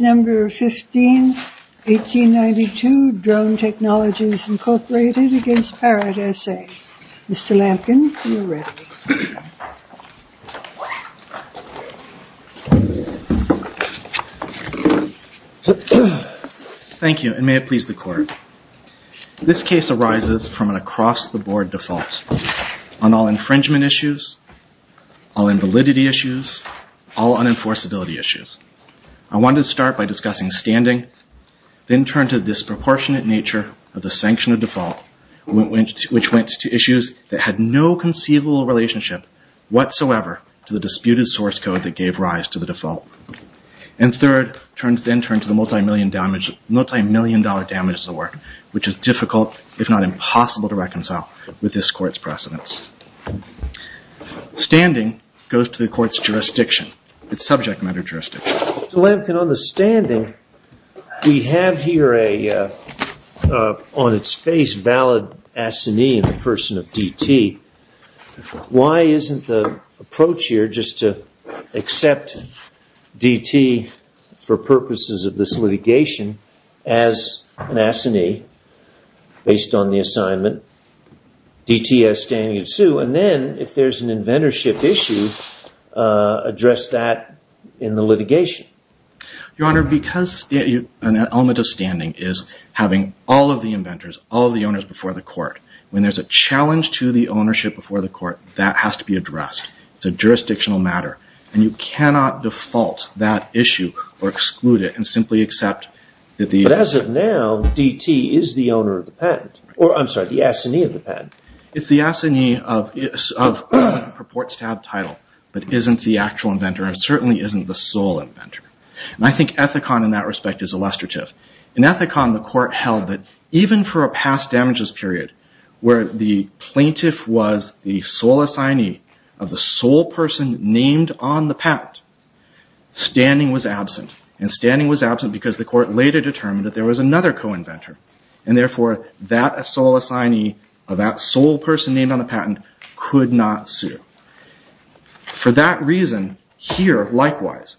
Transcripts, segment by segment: Number 15, 1892, Drone Technologies, Inc. Thank you, and may it please the Court. This case arises from an across-the-board default on all infringement issues, all invalidity issues, all unenforceability issues. I want to start by discussing standing, then turn to the disproportionate nature of the sanction of default, which went to issues that had no conceivable relationship whatsoever to the disputed source code that gave rise to the default. And third, then turn to the multimillion-dollar damages at work, which is difficult, if not impossible, to reconcile with this Court's precedence. Standing goes to the Court's jurisdiction, its subject matter jurisdiction. So, Lamkin, on the standing, we have here a, on its face, valid assignee in the person of D.T. Why isn't the approach here just to accept D.T. for purposes of this litigation as an assignee based on the assignment, D.T. as standing in sue, and then, if there's an Your Honor, because an element of standing is having all of the inventors, all of the owners before the Court, when there's a challenge to the ownership before the Court, that has to be addressed. It's a jurisdictional matter, and you cannot default that issue or exclude it and simply accept that the But as of now, D.T. is the owner of the patent, or, I'm sorry, the assignee of the patent. It's the assignee of, purports to have title, but isn't the actual inventor and certainly isn't the sole inventor. And I think Ethicon, in that respect, is illustrative. In Ethicon, the Court held that even for a past damages period, where the plaintiff was the sole assignee of the sole person named on the patent, standing was absent, and standing was absent because the Court later determined that there was another co-inventor, and therefore, that sole assignee of that sole person named on the patent could not sue. For that reason, here, likewise,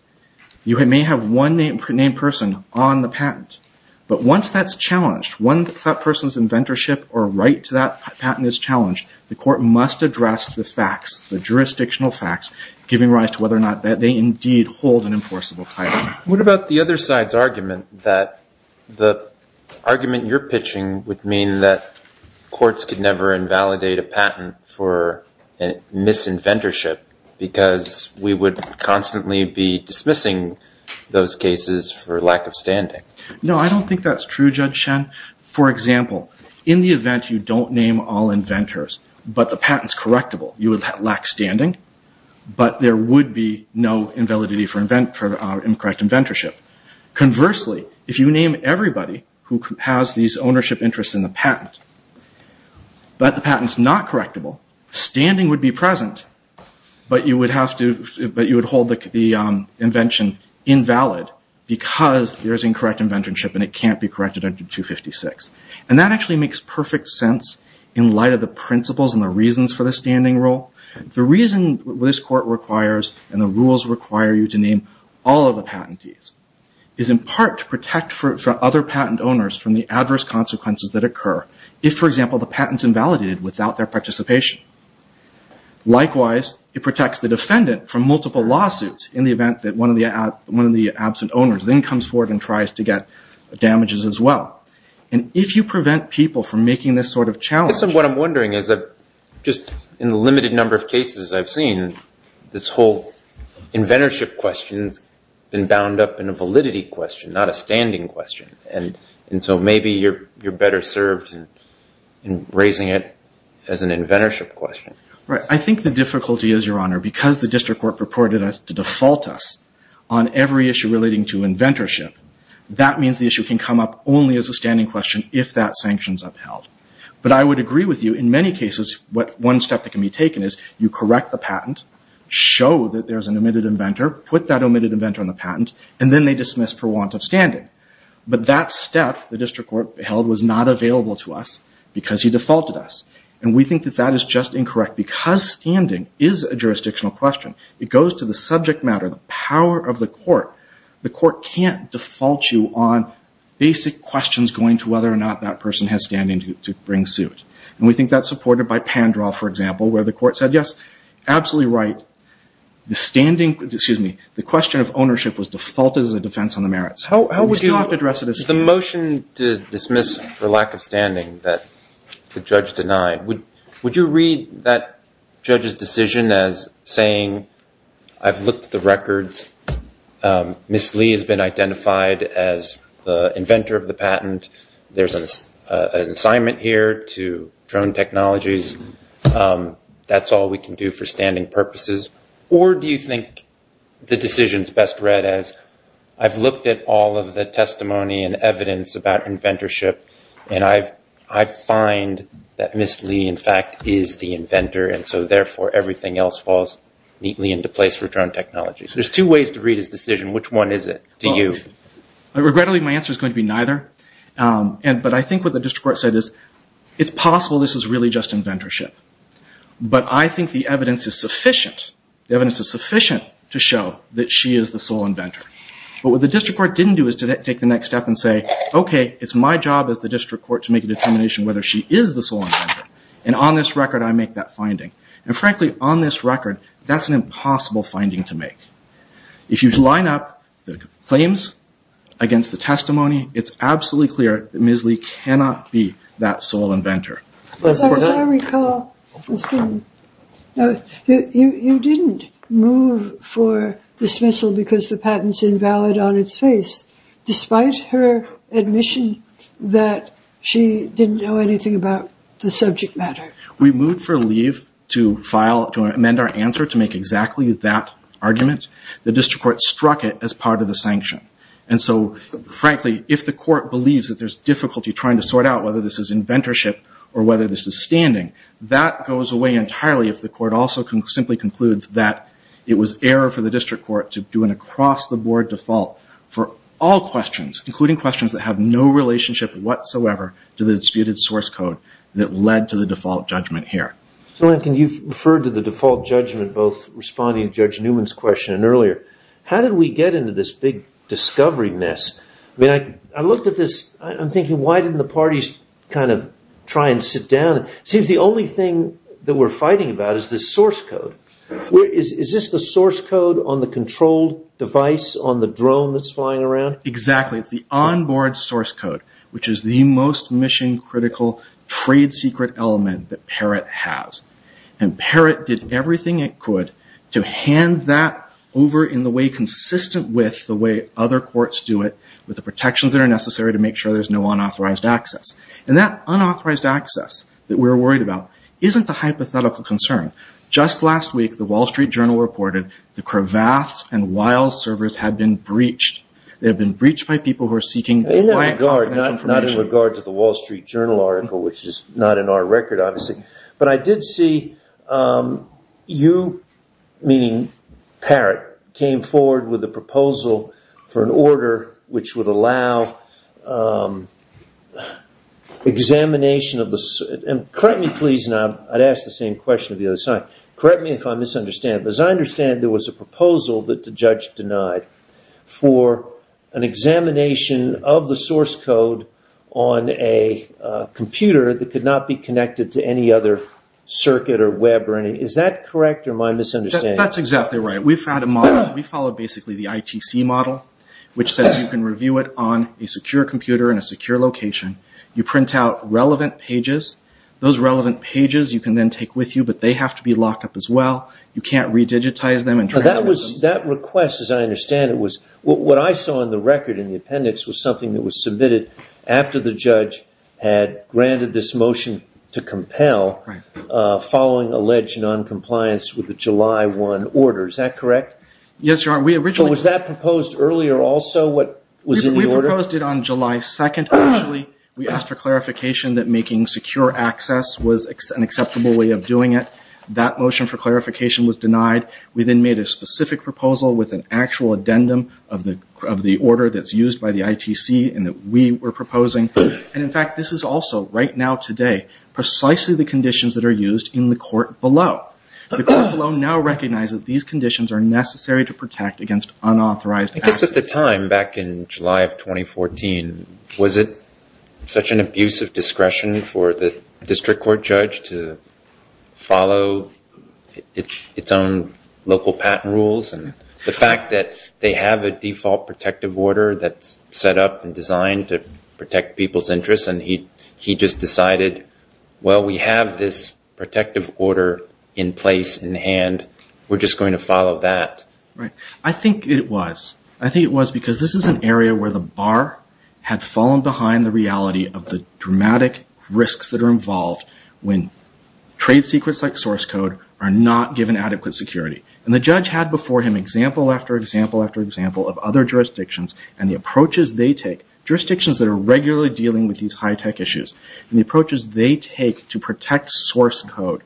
you may have one named person on the patent, but once that's challenged, once that person's inventorship or right to that patent is challenged, the Court must address the facts, the jurisdictional facts, giving rise to whether or not they indeed hold an enforceable title. What about the other side's argument, that the argument you're pitching would mean that there would be more misinventorship because we would constantly be dismissing those cases for lack of standing? No, I don't think that's true, Judge Shen. For example, in the event you don't name all inventors, but the patent's correctable, you would lack standing, but there would be no invalidity for incorrect inventorship. Conversely, if you name everybody who has these ownership interests in the patent, but the patent's not correctable, standing would be present, but you would hold the invention invalid, because there's incorrect inventorship and it can't be corrected under 256. That actually makes perfect sense in light of the principles and the reasons for the standing rule. The reason this Court requires and the rules require you to name all of the patentees is in part to protect for other patent owners from the adverse consequences that occur. If, for example, the patent's invalidated without their participation. Likewise, it protects the defendant from multiple lawsuits in the event that one of the absent owners then comes forward and tries to get damages as well. And if you prevent people from making this sort of challenge... I guess what I'm wondering is that just in the limited number of cases I've seen, this whole inventorship question's been bound up in a validity question, not a standing question. And so maybe you're better served in raising it as an inventorship question. Right. I think the difficulty is, Your Honor, because the District Court purported to default us on every issue relating to inventorship, that means the issue can come up only as a standing question if that sanction's upheld. But I would agree with you. In many cases, one step that can be taken is you correct the patent, show that there's an omitted inventor, put that omitted inventor on the patent, and then they dismiss for want of standing. But that step the District Court held was not available to us because he defaulted us. And we think that that is just incorrect. Because standing is a jurisdictional question, it goes to the subject matter, the power of the court. The court can't default you on basic questions going to whether or not that person has standing to bring suit. And we think that's supported by Pandraw, for example, where the court said, Yes, absolutely right. The question of ownership was defaulted as a defense on the merits. How would you address this? The motion to dismiss for lack of standing that the judge denied, would you read that judge's decision as saying, I've looked at the records. Ms. Lee has been identified as the inventor of the patent. There's an assignment here to drone technologies. That's all we can do for standing purposes. Or do you think the decision is best read as, I've looked at all of the testimony and evidence about inventorship, and I find that Ms. Lee, in fact, is the inventor. And so therefore, everything else falls neatly into place for drone technology. There's two ways to read his decision. Which one is it to you? Regrettably, my answer is going to be neither. But I think what the District Court said is, it's possible this is really just inventorship. But I think the evidence is sufficient. The evidence is sufficient to show that she is the sole inventor. But what the District Court didn't do is take the next step and say, okay, it's my job as the District Court to make a determination whether she is the sole inventor. And on this record, I make that finding. And frankly, on this record, that's an impossible finding to make. If you line up the claims against the testimony, it's absolutely clear that Ms. Lee cannot be that sole inventor. As I recall, you didn't move for dismissal because the patent's invalid on its face, despite her admission that she didn't know anything about the subject matter. We moved for leave to amend our answer to make exactly that argument. The District Court struck it as part of the sanction. And so, frankly, if the court believes that there's difficulty trying to sort out whether this is inventorship or whether this is standing, that goes away entirely if the court also simply concludes that it was error for the District Court to do an across-the-board default for all questions, including questions that have no relationship whatsoever to the disputed source code that led to the default judgment here. So, Lincoln, you've referred to the default judgment both responding to Judge Newman's question and earlier. How did we get into this big discovery mess? I looked at this. I'm thinking, why didn't the parties kind of try and sit down? It seems the only thing that we're fighting about is this source code. Is this the source code on the controlled device on the drone that's flying around? Exactly. It's the onboard source code, which is the most mission-critical trade secret element that Parrott has. And Parrott did everything it could to hand that over in the way consistent with the way other courts do it with the protections that are necessary to make sure there's no unauthorized access. And that unauthorized access that we're worried about isn't the hypothetical concern. Just last week, the Wall Street Journal reported the Cravath and Wiles servers had been breached. They had been breached by people who are seeking client confidential information. Not in regard to the Wall Street Journal article, which is not in our record, obviously. But I did see you, meaning Parrott, came forward with a proposal for an order which would allow examination of the... Correct me, please, and I'd ask the same question of the other side. Correct me if I misunderstand. As I understand, there was a proposal that the judge denied for an examination of the other circuit or web or anything. Is that correct or am I misunderstanding? That's exactly right. We followed basically the ITC model, which says you can review it on a secure computer in a secure location. You print out relevant pages. Those relevant pages you can then take with you, but they have to be locked up as well. You can't re-digitize them. That request, as I understand it, was... What I saw in the record in the appendix was something that was submitted after the judge had granted this motion to compel following alleged noncompliance with the July 1 order. Is that correct? Yes, Your Honor. Was that proposed earlier also, what was in the order? We proposed it on July 2nd, actually. We asked for clarification that making secure access was an acceptable way of doing it. That motion for clarification was denied. We then made a specific proposal with an actual addendum of the order that's used by the ITC and that we were proposing. In fact, this is also, right now today, precisely the conditions that are used in the court below. The court below now recognizes these conditions are necessary to protect against unauthorized access. I guess at the time, back in July of 2014, was it such an abuse of discretion for the district court judge to follow its own local patent rules? The fact that they have a default protective order that's set up and designed to protect people's interests and he just decided, well, we have this protective order in place in hand. We're just going to follow that. Right. I think it was. I think it was because this is an area where the bar had fallen behind the reality of the dramatic risks that are involved when trade secrets like source code are not given adequate security. The judge had before him example after example after example of other jurisdictions and the approaches they take, jurisdictions that are regularly dealing with these high-tech issues, and the approaches they take to protect source code.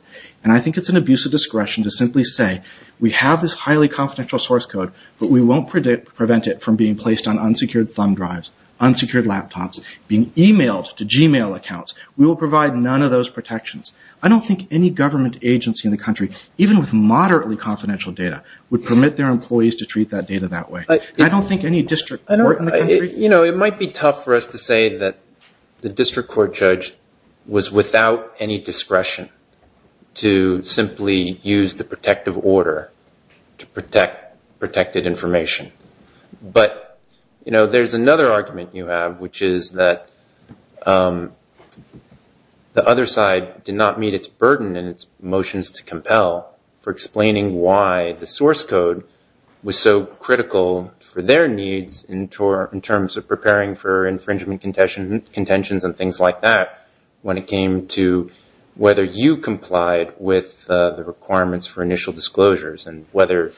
I think it's an abuse of discretion to simply say, we have this highly confidential source code, but we won't prevent it from being placed on unsecured thumb drives, unsecured laptops, being emailed to Gmail accounts. We will provide none of those protections. I don't think any government agency in the country, even with moderately confidential data, would permit their employees to treat that data that way. I don't think any district court in the country. You know, it might be tough for us to say that the district court judge was without any discretion to simply use the protective order to protect protected information. But, you know, there's another argument you have, which is that the other side did not meet its burden in its motions to compel for explaining why the source code was so critical for their needs in terms of preparing for infringement contentions and things like that when it came to whether you complied with the requirements for initial disclosures and whether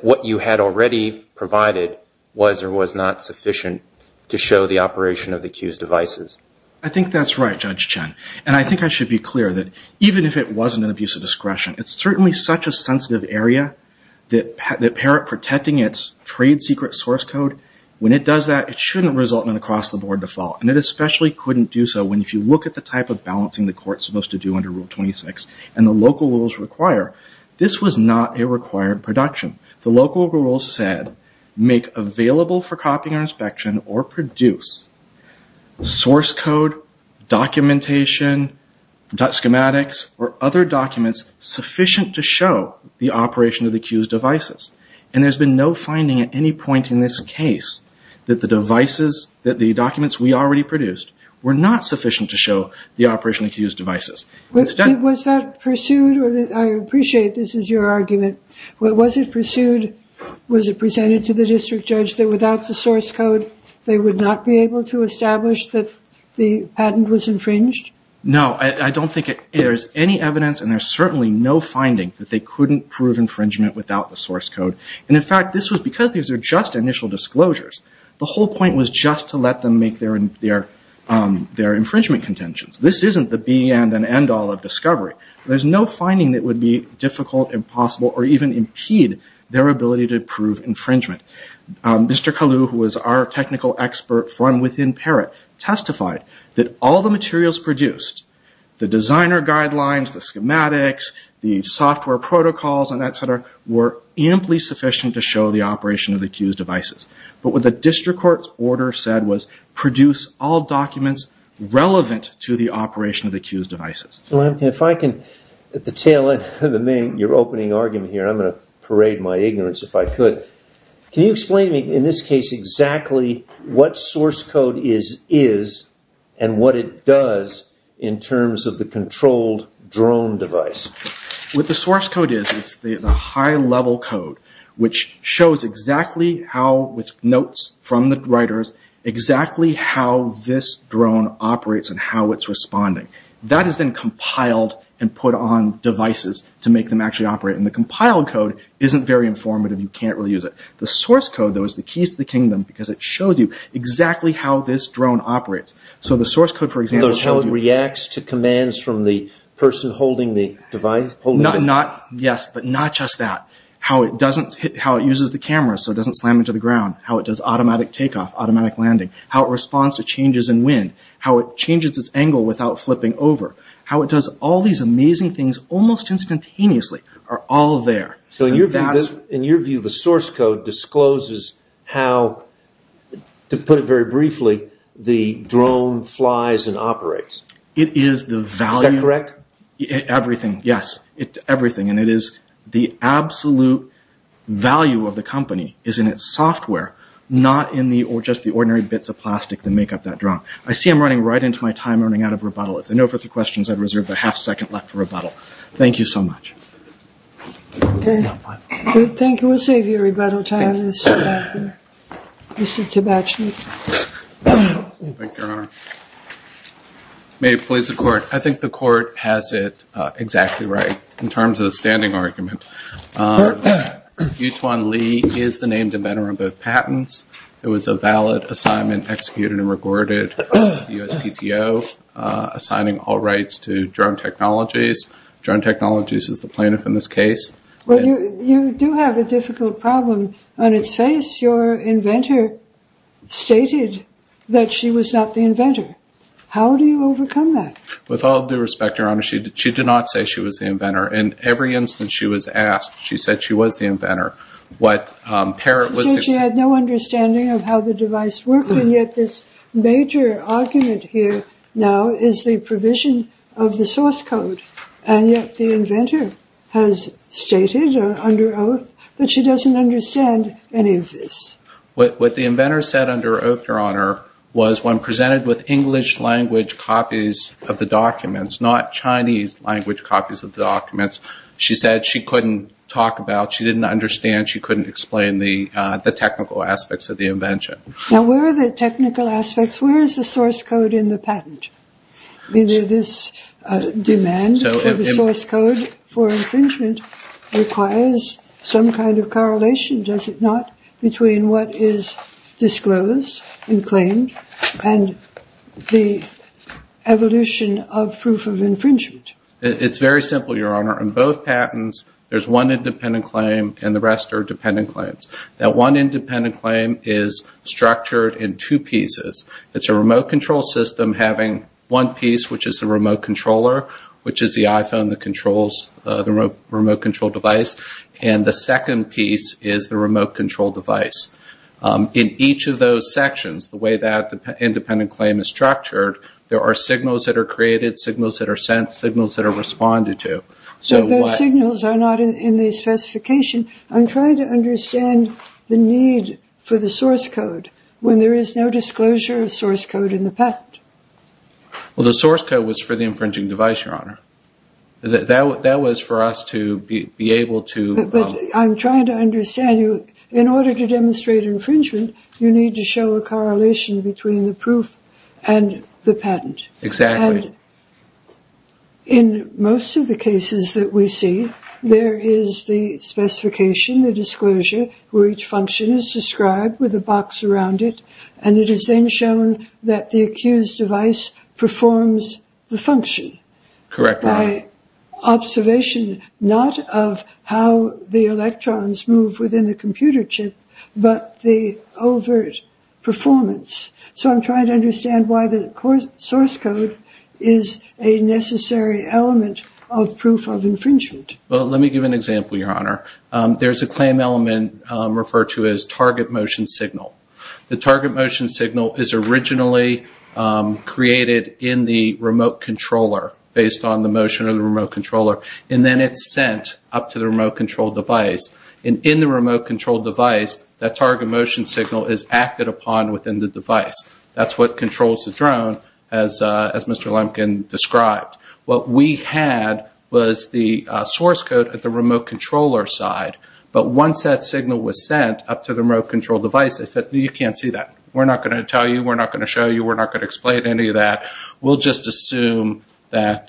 what you had already provided was or was not sufficient to show the operation of the accused devices. I think that's right, Judge Chen. And I think I should be clear that even if it wasn't an abuse of discretion, it's certainly such a sensitive area that protecting its trade secret source code, when it does that, it shouldn't result in an across-the-board default. And it especially couldn't do so when, if you look at the type of balancing the court's supposed to do under Rule 26 and the local rules require, this was not a required production. The local rules said make available for copying or inspection or produce source code, documentation, schematics, or other documents sufficient to show the operation of the accused devices. And there's been no finding at any point in this case that the devices, that the documents we already produced were not sufficient to show the operation of the accused devices. Was that pursued, or I appreciate this is your argument, but was it pursued, was it presented to the district judge that without the source code they would not be able to establish that the patent was infringed? No, I don't think there's any evidence and there's certainly no finding that they couldn't prove infringement without the source code. And in fact, because these are just initial disclosures, the whole point was just to let them make their infringement contentions. This isn't the be-end and end-all of discovery. There's no finding that would be difficult, impossible, or even impede their ability to prove infringement. Mr. Kalu, who was our technical expert from within Parrot, testified that all the materials produced, the designer guidelines, the schematics, the software protocols, etc., were amply sufficient to show the operation of the accused devices. But what the district court's order said was produce all documents relevant to the operation of the accused devices. If I can, at the tail end of your opening argument here, and I'm going to parade my ignorance if I could, can you explain to me, in this case, exactly what source code is and what it does in terms of the controlled drone device? What the source code is is the high-level code, which shows exactly how, with notes from the writers, exactly how this drone operates and how it's responding. That is then compiled and put on devices to make them actually operate. And the compiled code isn't very informative. You can't really use it. The source code, though, is the keys to the kingdom because it shows you exactly how this drone operates. So the source code, for example... That's how it reacts to commands from the person holding the device? Yes, but not just that. How it uses the camera so it doesn't slam into the ground. How it does automatic takeoff, automatic landing. How it responds to changes in wind. How it changes its angle without flipping over. How it does all these amazing things almost instantaneously are all there. So in your view, the source code discloses how, to put it very briefly, the drone flies and operates. It is the value... Is that correct? Everything, yes. Everything. And it is the absolute value of the company is in its software, not in just the ordinary bits of plastic that make up that drone. I see I'm running right into my time. I'm running out of rebuttal. If there are no further questions, I reserve a half-second left for rebuttal. Thank you so much. Good. Thank you. We'll save you rebuttal time, Mr. Thibach. Thank you, Your Honor. May it please the Court. I think the Court has it exactly right in terms of the standing argument. Yu-Tuan Lee is the named inventor of both patents. It was a valid assignment executed and recorded by the USPTO, assigning all rights to drone technologies. Drone technologies is the plaintiff in this case. Well, you do have a difficult problem. On its face, your inventor stated that she was not the inventor. How do you overcome that? With all due respect, Your Honor, she did not say she was the inventor. In every instance she was asked, she said she was the inventor. So she had no understanding of how the device worked, and yet this major argument here now is the provision of the source code. And yet the inventor has stated under oath that she doesn't understand any of this. What the inventor said under oath, Your Honor, was when presented with English-language copies of the documents, not Chinese-language copies of the documents, she said she couldn't talk about, she didn't understand, she couldn't explain the technical aspects of the invention. Now, where are the technical aspects? Where is the source code in the patent? This demand for the source code for infringement requires some kind of correlation, does it not, between what is disclosed in claim and the evolution of proof of infringement? It's very simple, Your Honor. In both patents there's one independent claim and the rest are dependent claims. Now, one independent claim is structured in two pieces. It's a remote control system having one piece, which is the remote controller, which is the iPhone that controls the remote control device, and the second piece is the remote control device. In each of those sections, the way that the independent claim is structured, there are signals that are created, signals that are sent, signals that are responded to. But those signals are not in the specification. I'm trying to understand the need for the source code when there is no disclosure of source code in the patent. Well, the source code was for the infringing device, Your Honor. That was for us to be able to... But I'm trying to understand you. In order to demonstrate infringement, Exactly. In most of the cases that we see, there is the specification, the disclosure, where each function is described with a box around it, and it is then shown that the accused device performs the function. Correct, Your Honor. By observation not of how the electrons move within the computer chip, but the overt performance. So I'm trying to understand why the source code is a necessary element of proof of infringement. Well, let me give an example, Your Honor. There's a claim element referred to as target motion signal. The target motion signal is originally created in the remote controller based on the motion of the remote controller, and then it's sent up to the remote control device. And in the remote control device, that target motion signal is acted upon within the device. That's what controls the drone, as Mr. Lemkin described. What we had was the source code at the remote controller side, but once that signal was sent up to the remote control device, they said, you can't see that. We're not going to tell you, we're not going to show you, we're not going to explain any of that. We'll just assume that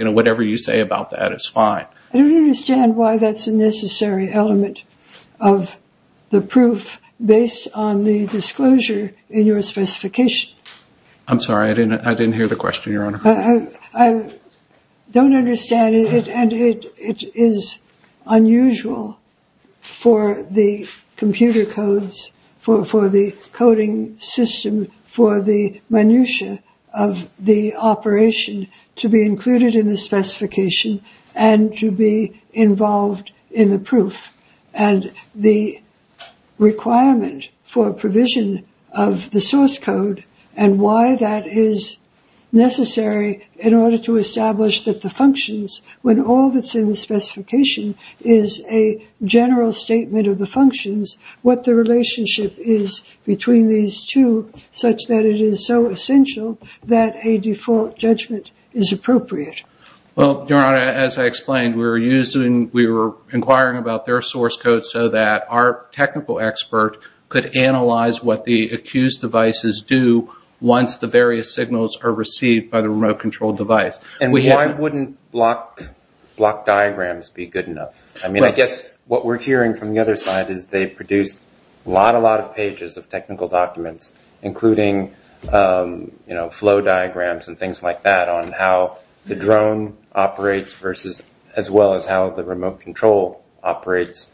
whatever you say about that is fine. I don't understand why that's a necessary element of the proof based on the disclosure in your specification. I'm sorry, I didn't hear the question, Your Honor. I don't understand it, and it is unusual for the computer codes, for the coding system, for the minutia of the operation to be included in the specification and to be involved in the proof. And the requirement for provision of the source code and why that is necessary in order to establish that the functions, when all that's in the specification is a general statement of the functions, what the relationship is between these two, such that it is so essential that a default judgment is appropriate. Well, Your Honor, as I explained, we were inquiring about their source code so that our technical expert could analyze what the accused devices do once the various signals are received by the remote control device. And why wouldn't block diagrams be good enough? I mean, I guess what we're hearing from the other side is they produced a lot, a lot of pages of technical documents, including flow diagrams and things like that on how the drone operates as well as how the remote control operates.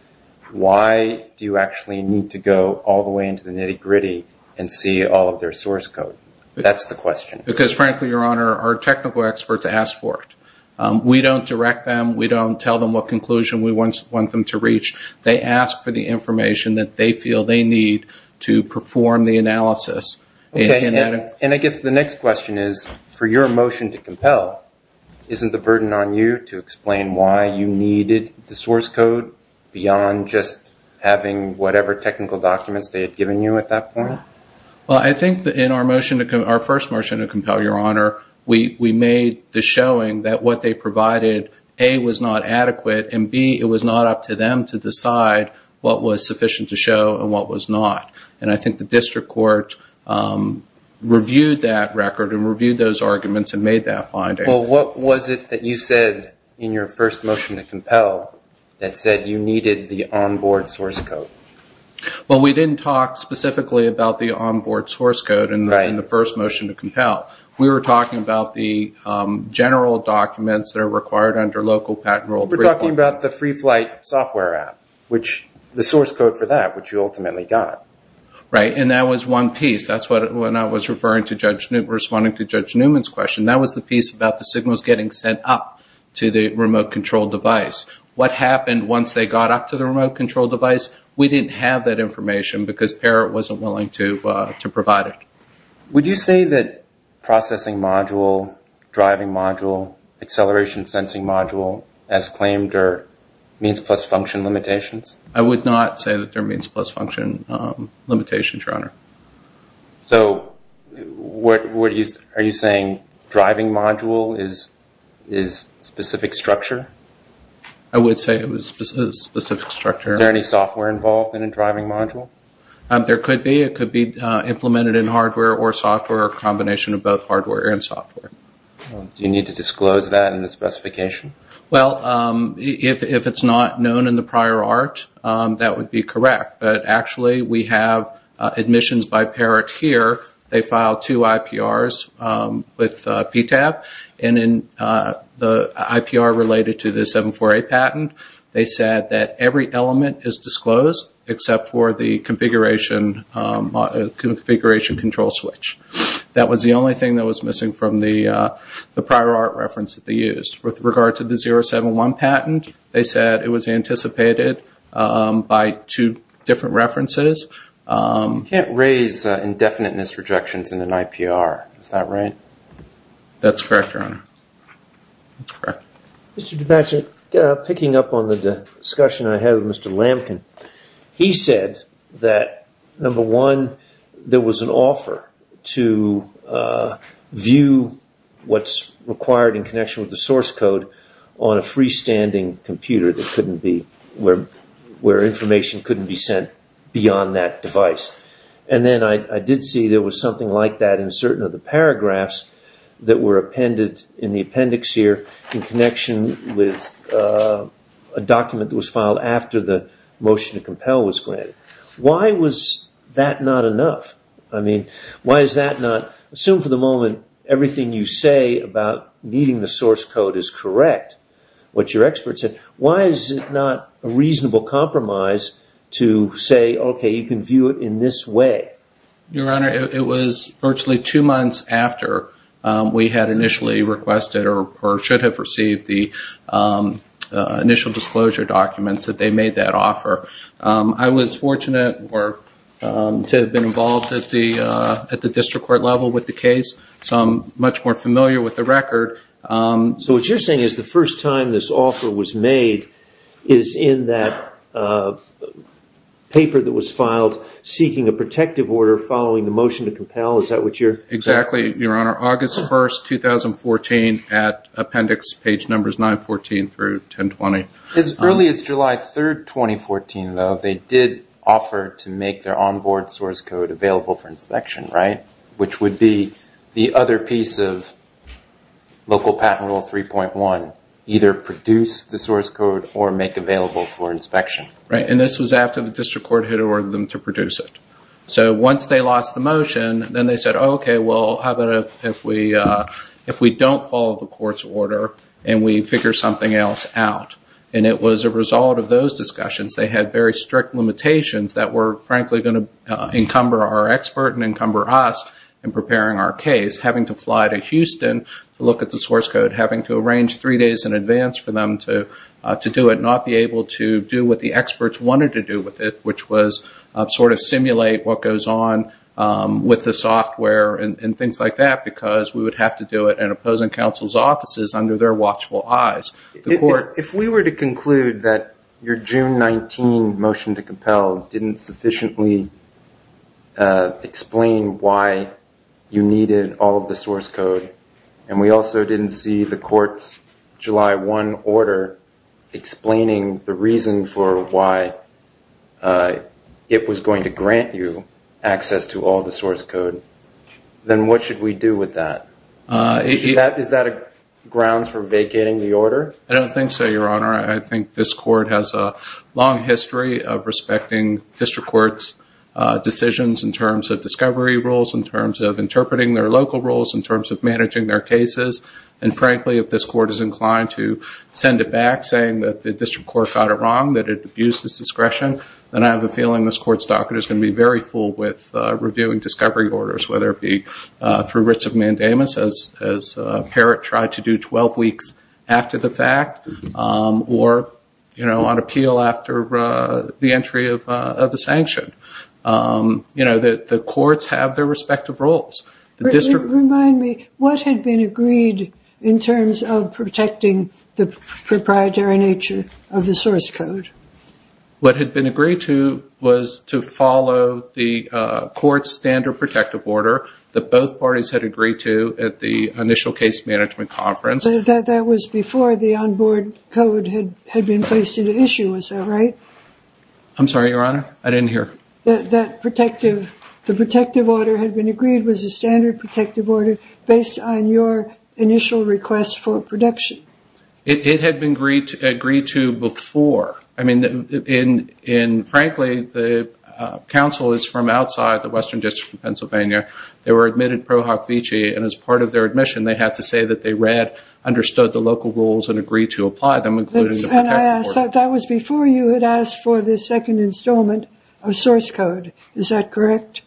Why do you actually need to go all the way into the nitty-gritty and see all of their source code? That's the question. Because, frankly, Your Honor, our technical experts ask for it. We don't direct them. We don't tell them what conclusion we want them to reach. They ask for the information that they feel they need to perform the analysis. And I guess the next question is, for your motion to compel, isn't the burden on you to explain why you needed the source code beyond just having whatever technical documents they had given you at that point? Well, I think in our first motion to compel, Your Honor, we made the showing that what they provided, A, was not adequate, and, B, it was not up to them to decide what was sufficient to show and what was not. And I think the district court reviewed that record and reviewed those arguments and made that finding. Well, what was it that you said in your first motion to compel that said you needed the on-board source code? Well, we didn't talk specifically about the on-board source code in the first motion to compel. We were talking about the general documents that are required under local patent rule. We were talking about the Free Flight software app, the source code for that, which you ultimately got. Right, and that was one piece. That's when I was responding to Judge Newman's question. That was the piece about the signals getting sent up to the remote-controlled device. What happened once they got up to the remote-controlled device? We didn't have that information because Parrot wasn't willing to provide it. Would you say that processing module, driving module, acceleration sensing module, as claimed, are means-plus-function limitations? I would not say that they're means-plus-function limitations, Your Honor. So are you saying driving module is a specific structure? I would say it was a specific structure. Is there any software involved in a driving module? There could be. It could be implemented in hardware or software, a combination of both hardware and software. Do you need to disclose that in the specification? Well, if it's not known in the prior art, that would be correct. But actually we have admissions by Parrot here. They filed two IPRs with PTAB, and in the IPR related to the 748 patent, they said that every element is disclosed except for the configuration control switch. That was the only thing that was missing from the prior art reference that they used. With regard to the 071 patent, they said it was anticipated by two different references. You can't raise indefinite misrejections in an IPR. Is that right? That's correct, Your Honor. Mr. Dubaczyk, picking up on the discussion I had with Mr. Lampkin, he said that, number one, there was an offer to view what's required in connection with the source code on a freestanding computer where information couldn't be sent beyond that device. And then I did see there was something like that in certain of the paragraphs that were appended in the appendix here in connection with a document that was filed after the motion to compel was granted. Why was that not enough? Assume for the moment everything you say about meeting the source code is correct, what your expert said, why is it not a reasonable compromise to say, okay, you can view it in this way? Your Honor, it was virtually two months after we had initially requested or should have received the initial disclosure documents that they made that offer. I was fortunate to have been involved at the district court level with the case, so I'm much more familiar with the record. So what you're saying is the first time this offer was made is in that paper that was filed seeking a protective order following the motion to compel, is that what you're saying? Exactly, Your Honor. August 1st, 2014 at appendix page numbers 914 through 1020. As early as July 3rd, 2014, though, they did offer to make their onboard source code available for inspection, right? Which would be the other piece of local patent rule 3.1, either produce the source code or make available for inspection. Right, and this was after the district court had ordered them to produce it. So once they lost the motion, then they said, okay, well, how about if we don't follow the court's order and we figure something else out? And it was a result of those discussions. They had very strict limitations that were, frankly, going to encumber our expert and encumber us in preparing our case, having to fly to Houston to look at the source code, having to arrange three days in advance for them to do it, not be able to do what the experts wanted to do with it, which was sort of simulate what goes on with the software and things like that because we would have to do it in opposing counsel's offices under their watchful eyes. If we were to conclude that your June 19 motion to compel didn't sufficiently explain why you needed all of the source code and we also didn't see the court's July 1 order explaining the reason for why it was going to grant you access to all the source code, then what should we do with that? Is that a grounds for vacating the order? I don't think so, Your Honor. I think this court has a long history of respecting district court's decisions in terms of discovery rules, in terms of interpreting their local rules, in terms of managing their cases, and, frankly, if this court is inclined to send it back saying that the district court got it wrong, that it abused its discretion, then I have a feeling this court's docket is going to be very full with reviewing discovery orders, whether it be through writs of mandamus, as Herod tried to do 12 weeks after the fact, or on appeal after the entry of the sanction. The courts have their respective roles. Remind me, what had been agreed in terms of protecting the proprietary nature of the source code? What had been agreed to was to follow the court's standard protective order that both parties had agreed to at the initial case management conference. But that was before the onboard code had been placed into issue, was that right? I'm sorry, Your Honor, I didn't hear. The protective order had been agreed was a standard protective order based on your initial request for protection. It had been agreed to before. I mean, frankly, the counsel is from outside the Western District of Pennsylvania. They were admitted pro hoc vici, and as part of their admission, they had to say that they read, understood the local rules, and agreed to apply them, including the protective order. That was before you had asked for the second installment of source code, is that correct?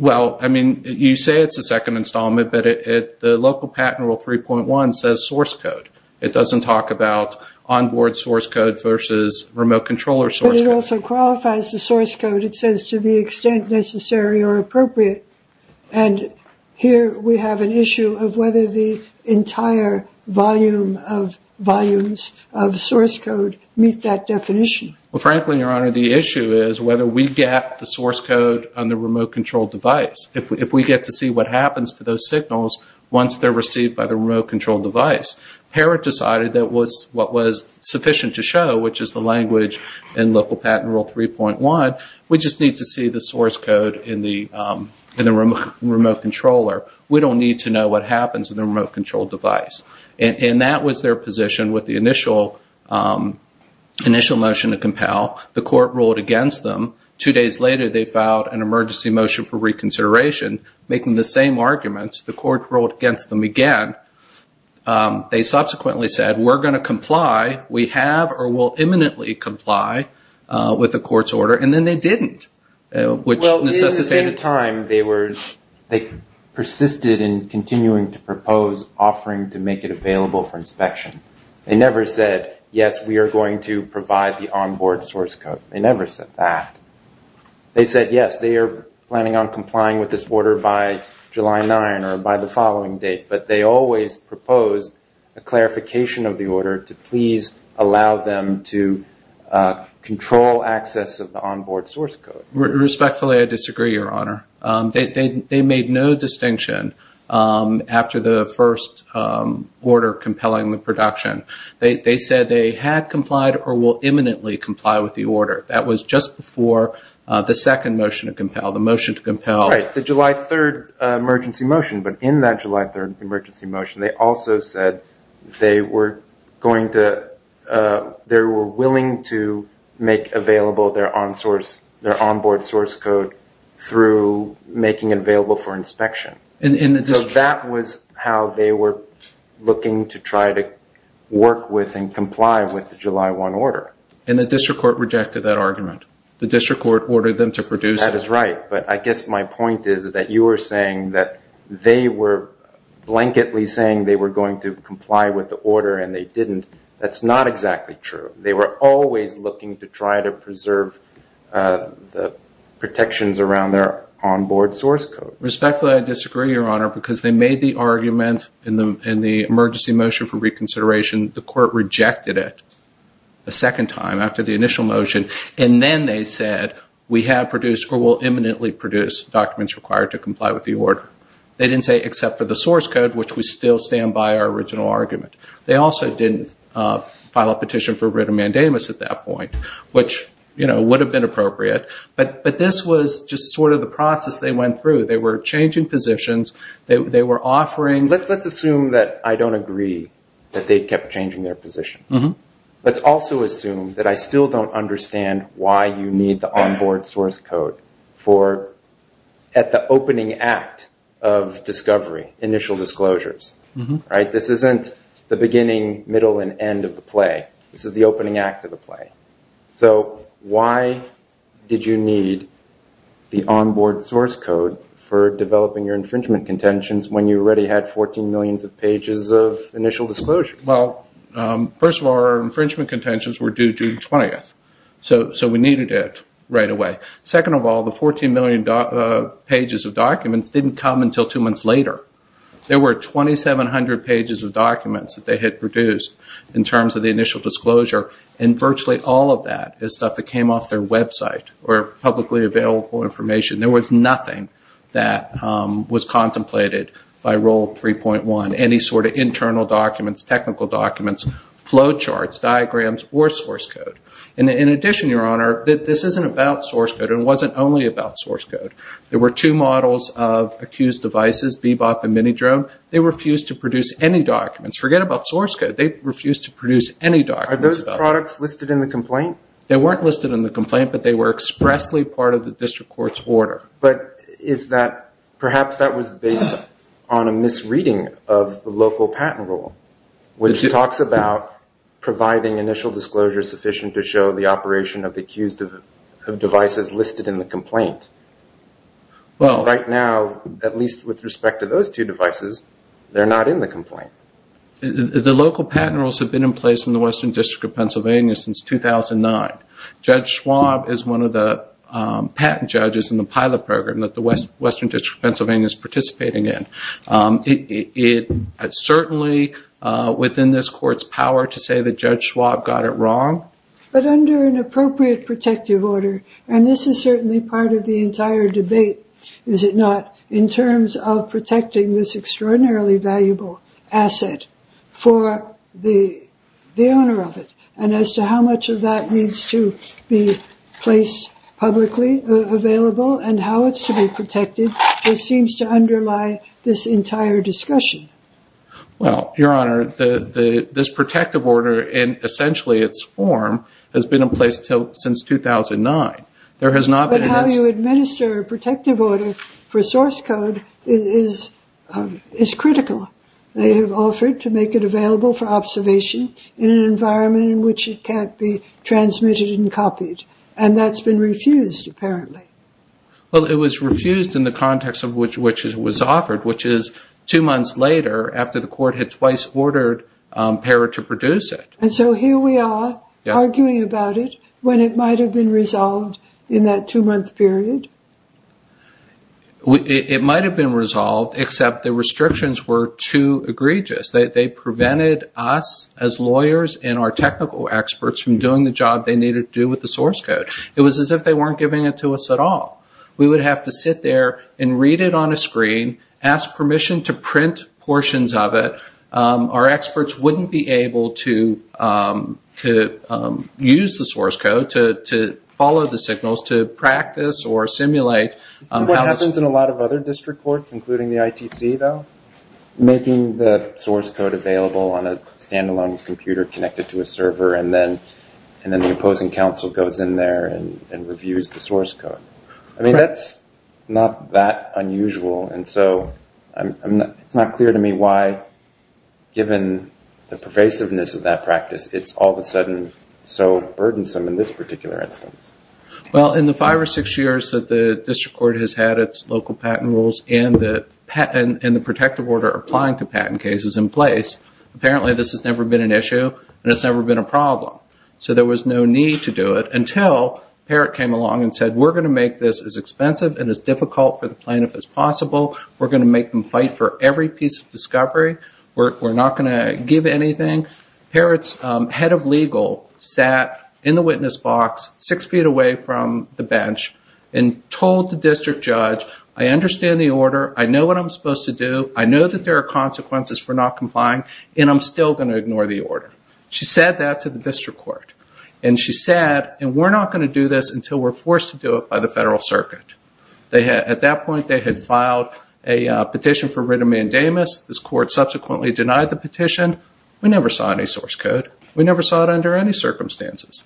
Well, I mean, you say it's a second installment, but the local patent rule 3.1 says source code. It doesn't talk about onboard source code versus remote controller source code. But it also qualifies the source code. It says to the extent necessary or appropriate. And here we have an issue of whether the entire volume of volumes of source code meet that definition. Well, frankly, Your Honor, the issue is whether we get the source code on the remote control device. If we get to see what happens to those signals once they're received by the remote control device, Parrott decided that was what was sufficient to show, which is the language in local patent rule 3.1. We just need to see the source code in the remote controller. We don't need to know what happens in the remote control device. And that was their position with the initial motion to compel. The court ruled against them. Two days later, they filed an emergency motion for reconsideration, making the same arguments. The court ruled against them again. They subsequently said, we're going to comply. We have or will imminently comply with the court's order. And then they didn't, which necessitated time. They persisted in continuing to propose offering to make it available for inspection. They never said, yes, we are going to provide the onboard source code. They never said that. They said, yes, they are planning on complying with this order by July 9 or by the following date. But they always proposed a clarification of the order to please allow them to control access of the onboard source code. Respectfully, I disagree, Your Honor. They made no distinction after the first order compelling the production. They said they had complied or will imminently comply with the order. That was just before the second motion to compel, the motion to compel. Right, the July 3 emergency motion. But in that July 3 emergency motion, they also said they were willing to make available their onboard source code through making it available for inspection. So that was how they were looking to try to work with and comply with the July 1 order. And the district court rejected that argument. The district court ordered them to produce. That is right. But I guess my point is that you were saying that they were blanketly saying they were going to comply with the order and they didn't. That's not exactly true. They were always looking to try to preserve the protections around their onboard source code. Respectfully, I disagree, Your Honor, because they made the argument in the emergency motion for reconsideration. The court rejected it a second time after the initial motion. And then they said we have produced or will imminently produce documents required to comply with the order. They didn't say except for the source code, which would still stand by our original argument. They also didn't file a petition for writ of mandamus at that point, which, you know, would have been appropriate. But this was just sort of the process they went through. They were changing positions. They were offering. Let's assume that I don't agree that they kept changing their positions. Let's also assume that I still don't understand why you need the onboard source code at the opening act of discovery, initial disclosures. This isn't the beginning, middle, and end of the play. This is the opening act of the play. So why did you need the onboard source code for developing your infringement contentions when you already had 14 million pages of initial disclosure? Well, first of all, our infringement contentions were due June 20th. So we needed it right away. Second of all, the 14 million pages of documents didn't come until two months later. There were 2,700 pages of documents that they had produced in terms of the initial disclosure. And virtually all of that is stuff that came off their website or publicly available information. There was nothing that was contemplated by Rule 3.1. Any sort of internal documents, technical documents, flow charts, diagrams, or source code. In addition, Your Honor, this isn't about source code and wasn't only about source code. There were two models of accused devices, Bebop and Minidrome. They refused to produce any documents. Forget about source code. They refused to produce any documents. Are those products listed in the complaint? They weren't listed in the complaint, but they were expressly part of the district court's order. But perhaps that was based on a misreading of the local patent rule, which talks about providing initial disclosure sufficient to show the operation of accused devices listed in the complaint. Right now, at least with respect to those two devices, they're not in the complaint. The local patent rules have been in place in the Western District of Pennsylvania since 2009. Judge Schwab is one of the patent judges in the pilot program that the Western District of Pennsylvania is participating in. It is certainly within this court's power to say that Judge Schwab got it wrong. But under an appropriate protective order, and this is certainly part of the entire debate, is it not, in terms of protecting this extraordinarily valuable asset for the owner of it, and as to how much of that needs to be placed publicly available and how it's to be protected, just seems to underlie this entire discussion. Well, Your Honor, this protective order in essentially its form has been in place since 2009. But how you administer a protective order for source code is critical. They have offered to make it available for observation in an environment in which it can't be transmitted and copied, and that's been refused, apparently. Well, it was refused in the context in which it was offered, which is two months later after the court had twice ordered PARA to produce it. And so here we are arguing about it when it might have been resolved in that two-month period? It might have been resolved, except the restrictions were too egregious. They prevented us as lawyers and our technical experts from doing the job they needed to do with the source code. It was as if they weren't giving it to us at all. We would have to sit there and read it on a screen, ask permission to print portions of it. Our experts wouldn't be able to use the source code to follow the signals, to practice or simulate. What happens in a lot of other district courts, including the ITC, though? Making the source code available on a standalone computer connected to a server, and then the opposing counsel goes in there and reviews the source code. I mean, that's not that unusual. And so it's not clear to me why, given the pervasiveness of that practice, it's all of a sudden so burdensome in this particular instance. Well, in the five or six years that the district court has had its local patent rules and the protective order applying to patent cases in place, apparently this has never been an issue and it's never been a problem. So there was no need to do it until Parrott came along and said, we're going to make this as expensive and as difficult for the plaintiff as possible. We're going to make them fight for every piece of discovery. We're not going to give anything. Parrott's head of legal sat in the witness box six feet away from the bench and told the district judge, I understand the order, I know what I'm supposed to do, I know that there are consequences for not complying, and I'm still going to ignore the order. She said that to the district court. And she said, and we're not going to do this until we're forced to do it by the federal circuit. At that point they had filed a petition for written mandamus. This court subsequently denied the petition. We never saw any source code. We never saw it under any circumstances.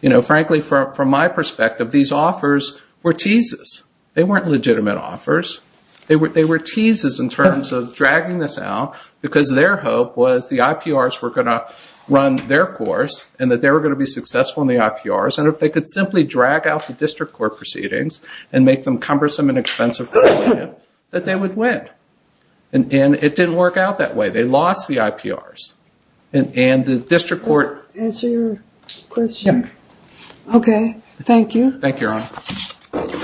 You know, frankly, from my perspective, these offers were teases. They weren't legitimate offers. They were teases in terms of dragging this out because their hope was the IPRs were going to run their course and that they were going to be successful in the IPRs. And if they could simply drag out the district court proceedings and make them cumbersome and expensive for the plaintiff, that they would win. And it didn't work out that way. They lost the IPRs. And the district court. Does that answer your question? Yeah. Okay. Thank you. Thank you, Your Honor.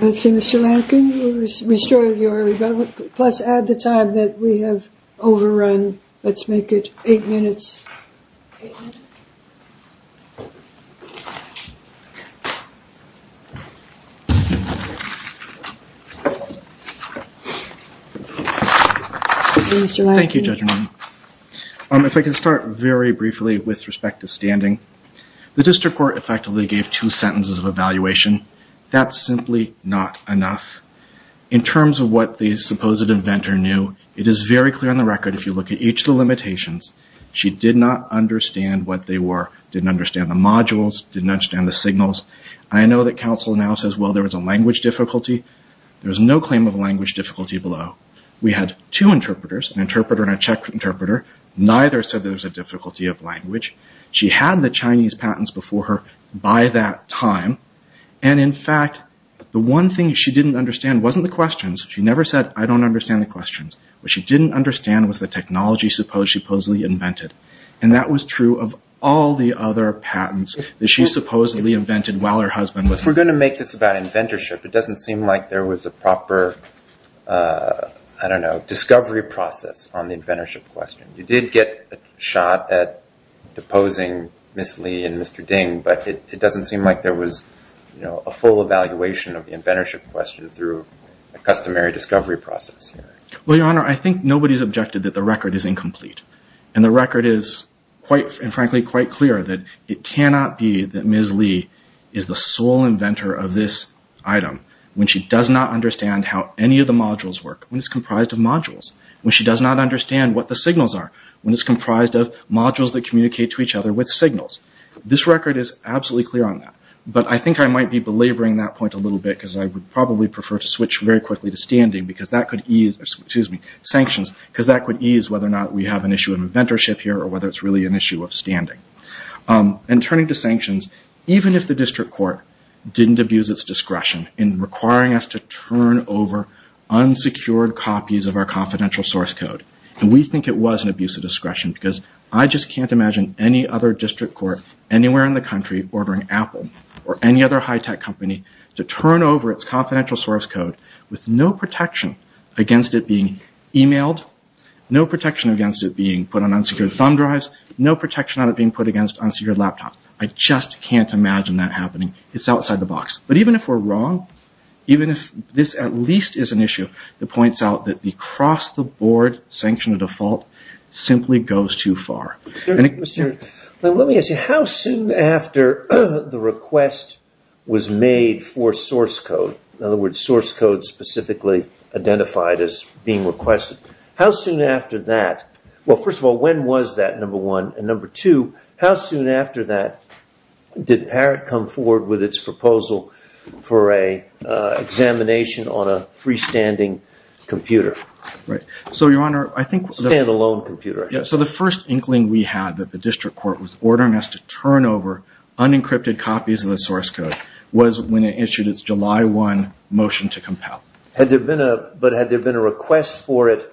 Let's see, Mr. Lankin. Restore your rebuttal. Plus add the time that we have overrun. Let's make it eight minutes. Thank you, Mr. Lankin. Thank you, Judge Romano. If I could start very briefly with respect to standing. The district court effectively gave two sentences of evaluation. That's simply not enough. In terms of what the supposed inventor knew, it is very clear on the record, if you look at each of the limitations, she did not understand what they were, didn't understand the modules, didn't understand the signals. I know that counsel now says, well, there was a language difficulty. There was no claim of language difficulty below. We had two interpreters, an interpreter and a Czech interpreter. Neither said there was a difficulty of language. She had the Chinese patents before her by that time. And, in fact, the one thing she didn't understand wasn't the questions. She never said, I don't understand the questions. What she didn't understand was the technology she supposedly invented. And that was true of all the other patents that she supposedly invented while her husband was there. If we're going to make this about inventorship, it doesn't seem like there was a proper, I don't know, discovery process on the inventorship question. You did get a shot at deposing Ms. Lee and Mr. Ding, but it doesn't seem like there was a full evaluation of the inventorship question through a customary discovery process. Well, Your Honor, I think nobody's objected that the record is incomplete. And the record is, frankly, quite clear that it cannot be that Ms. Lee is the sole inventor of this item when she does not understand what the signals are, when it's comprised of modules that communicate to each other with signals. This record is absolutely clear on that. But I think I might be belaboring that point a little bit because I would probably prefer to switch very quickly to standing because that could ease, excuse me, sanctions, because that could ease whether or not we have an issue of inventorship here or whether it's really an issue of standing. And turning to sanctions, even if the district court didn't abuse its discretion in requiring us to turn over unsecured copies of our confidential source code. And we think it was an abuse of discretion because I just can't imagine any other district court anywhere in the country ordering Apple or any other high-tech company to turn over its confidential source code with no protection against it being emailed, no protection against it being put on unsecured thumb drives, no protection on it being put against unsecured laptops. I just can't imagine that happening. It's outside the box. But even if we're wrong, even if this at least is an issue that points out that the cross-the-board sanction of default simply goes too far. Let me ask you, how soon after the request was made for source code, in other words, source code specifically identified as being requested, how soon after that, well, first of all, when was that, number one? And number two, how soon after that did Parrott come forward with its proposal for an examination on a freestanding computer? Right. So, Your Honor, I think... Stand-alone computer. Yeah, so the first inkling we had that the district court was ordering us to turn over unencrypted copies of the source code was when it issued its July 1 motion to compel. But had there been a request for it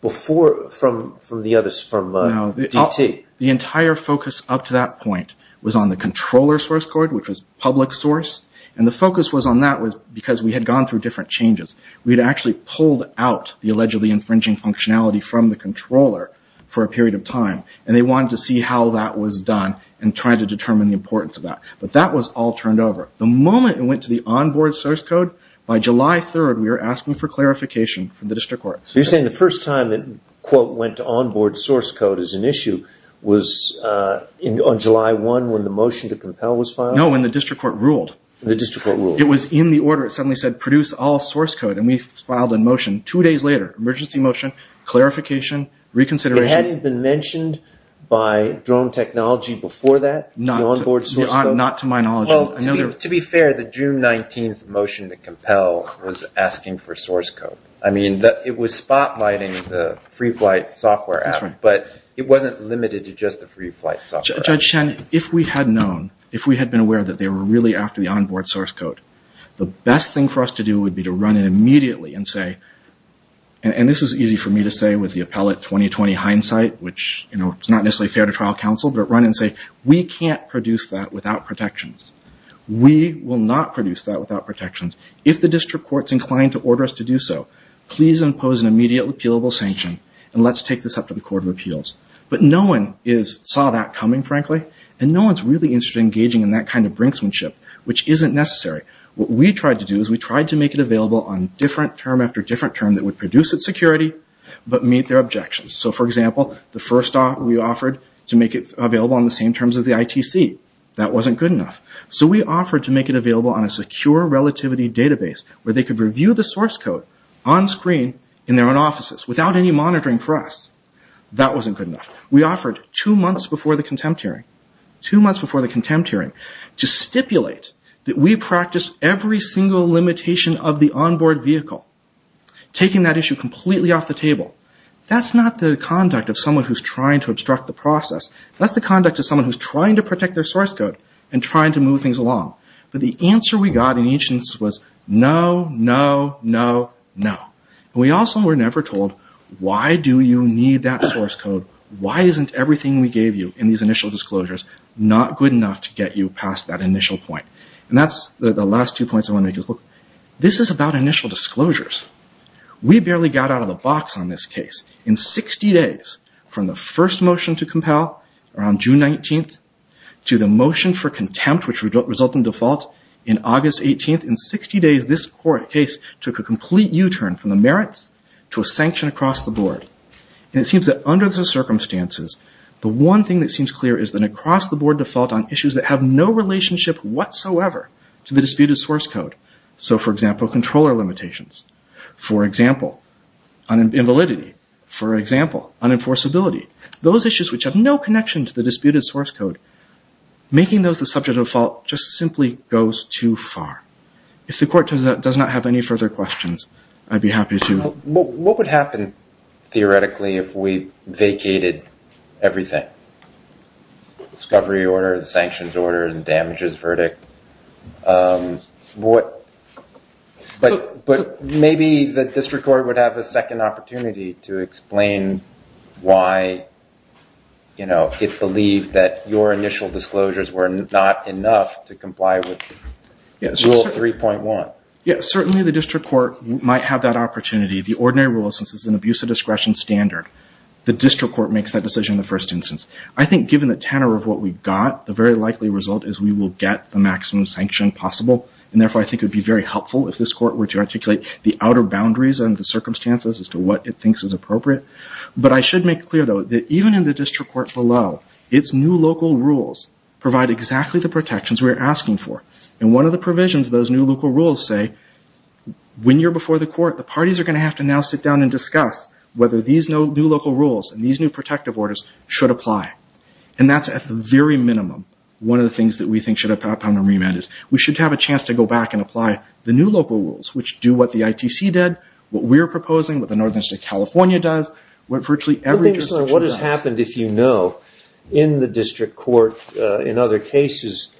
before, from the others, from DT? No, the entire focus up to that point was on the controller source code, which was public source, and the focus was on that because we had gone through different changes. We had actually pulled out the allegedly infringing functionality from the controller for a period of time, and they wanted to see how that was done and try to determine the importance of that. But that was all turned over. The moment it went to the on-board source code, by July 3rd we were asking for clarification from the district court. You're saying the first time it, quote, went to on-board source code as an issue was on July 1 when the motion to compel was filed? No, when the district court ruled. The district court ruled. It was in the order. It suddenly said produce all source code, and we filed a motion two days later. Emergency motion, clarification, reconsideration. It hadn't been mentioned by Drone Technology before that? Not to my knowledge. Well, to be fair, the June 19th motion to compel was asking for source code. It was spotlighting the FreeFlight software app, but it wasn't limited to just the FreeFlight software. Judge Shen, if we had known, if we had been aware that they were really after the on-board source code, the best thing for us to do would be to run it immediately and say, and this is easy for me to say with the appellate 20-20 hindsight, which is not necessarily fair to trial counsel, but run and say we can't produce that without protections. We will not produce that without protections. If the district court is inclined to order us to do so, please impose an immediate repealable sanction, and let's take this up to the Court of Appeals. But no one saw that coming, frankly, and no one is really interested in engaging in that kind of brinksmanship, which isn't necessary. What we tried to do is we tried to make it available on different term after different term that would produce its security, but meet their objections. So, for example, the first stop we offered to make it available on the same terms as the ITC. That wasn't good enough. So we offered to make it available on a secure relativity database where they could review the source code on screen in their own offices without any monitoring for us. That wasn't good enough. We offered two months before the contempt hearing, two months before the contempt hearing, to stipulate that we practice every single limitation of the onboard vehicle, taking that issue completely off the table. That's not the conduct of someone who's trying to obstruct the process. That's the conduct of someone who's trying to protect their source code and trying to move things along. But the answer we got in each instance was no, no, no, no. We also were never told, why do you need that source code? Why isn't everything we gave you in these initial disclosures not good enough to get you past that initial point? And that's the last two points I want to make is, look, this is about initial disclosures. We barely got out of the box on this case. In 60 days, from the first motion to compel around June 19th to the motion for contempt, which resulted in default in August 18th, in 60 days, this court case took a complete U-turn from the merits to a sanction across the board. And it seems that under the circumstances, the one thing that seems clear is that across the board, default on issues that have no relationship whatsoever to the disputed source code. So, for example, controller limitations. For example, invalidity. For example, unenforceability. Those issues which have no connection to the disputed source code. Making those the subject of default just simply goes too far. If the court does not have any further questions, I'd be happy to... What would happen, theoretically, if we vacated everything? Discovery order, the sanctions order, the damages verdict. But maybe the district court would have a second opportunity to explain why it believed that your initial disclosures were not enough to comply with Rule 3.1. Certainly the district court might have that opportunity. The ordinary rule, since it's an abuse of discretion standard, the district court makes that decision in the first instance. I think given the tenor of what we've got, the very likely result is we will get the maximum sanction possible. And therefore, I think it would be very helpful if this court were to articulate the outer boundaries and the circumstances as to what it thinks is appropriate. But I should make clear, though, that even in the district court below, its new local rules provide exactly the protections we are asking for. And one of the provisions of those new local rules say, when you're before the court, the parties are going to have to now sit down and discuss whether these new local rules and these new protective orders should apply. And that's at the very minimum one of the things that we think should have happened on remand is we should have a chance to go back and apply the new local rules, which do what the ITC did, what we're proposing, what the Northern District of California does, what virtually every district does. What has happened, if you know, in the district court in other cases,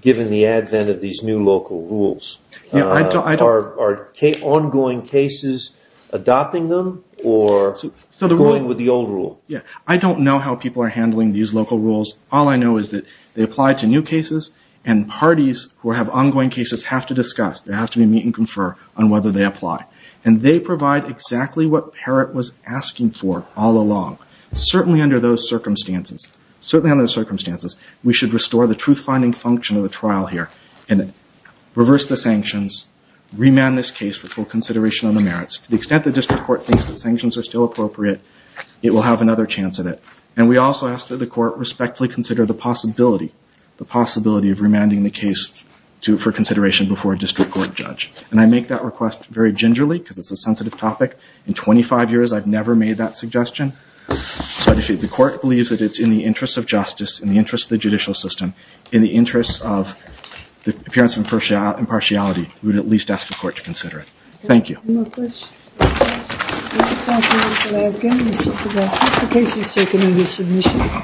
given the advent of these new local rules? Are ongoing cases adopting them or going with the old rule? I don't know how people are handling these local rules. All I know is that they apply to new cases, and parties who have ongoing cases have to discuss, they have to meet and confer on whether they apply. And they provide exactly what Parrott was asking for all along. Certainly under those circumstances, certainly under those circumstances, we should restore the truth-finding function of the trial here and reverse the sanctions, remand this case for full consideration of the merits. To the extent the district court thinks the sanctions are still appropriate, it will have another chance at it. And we also ask that the court respectfully consider the possibility, the possibility of remanding the case for consideration before a district court judge. And I make that request very gingerly, because it's a sensitive topic. In 25 years, I've never made that suggestion. So if the court believes that it's in the interest of justice, in the interest of the judicial system, in the interest of the appearance of impartiality, we would at least ask the court to consider it. Thank you. Thank you. Thank you, Mr. Levkin. Mr. DeGrasse Tyson. The case is taken into submission.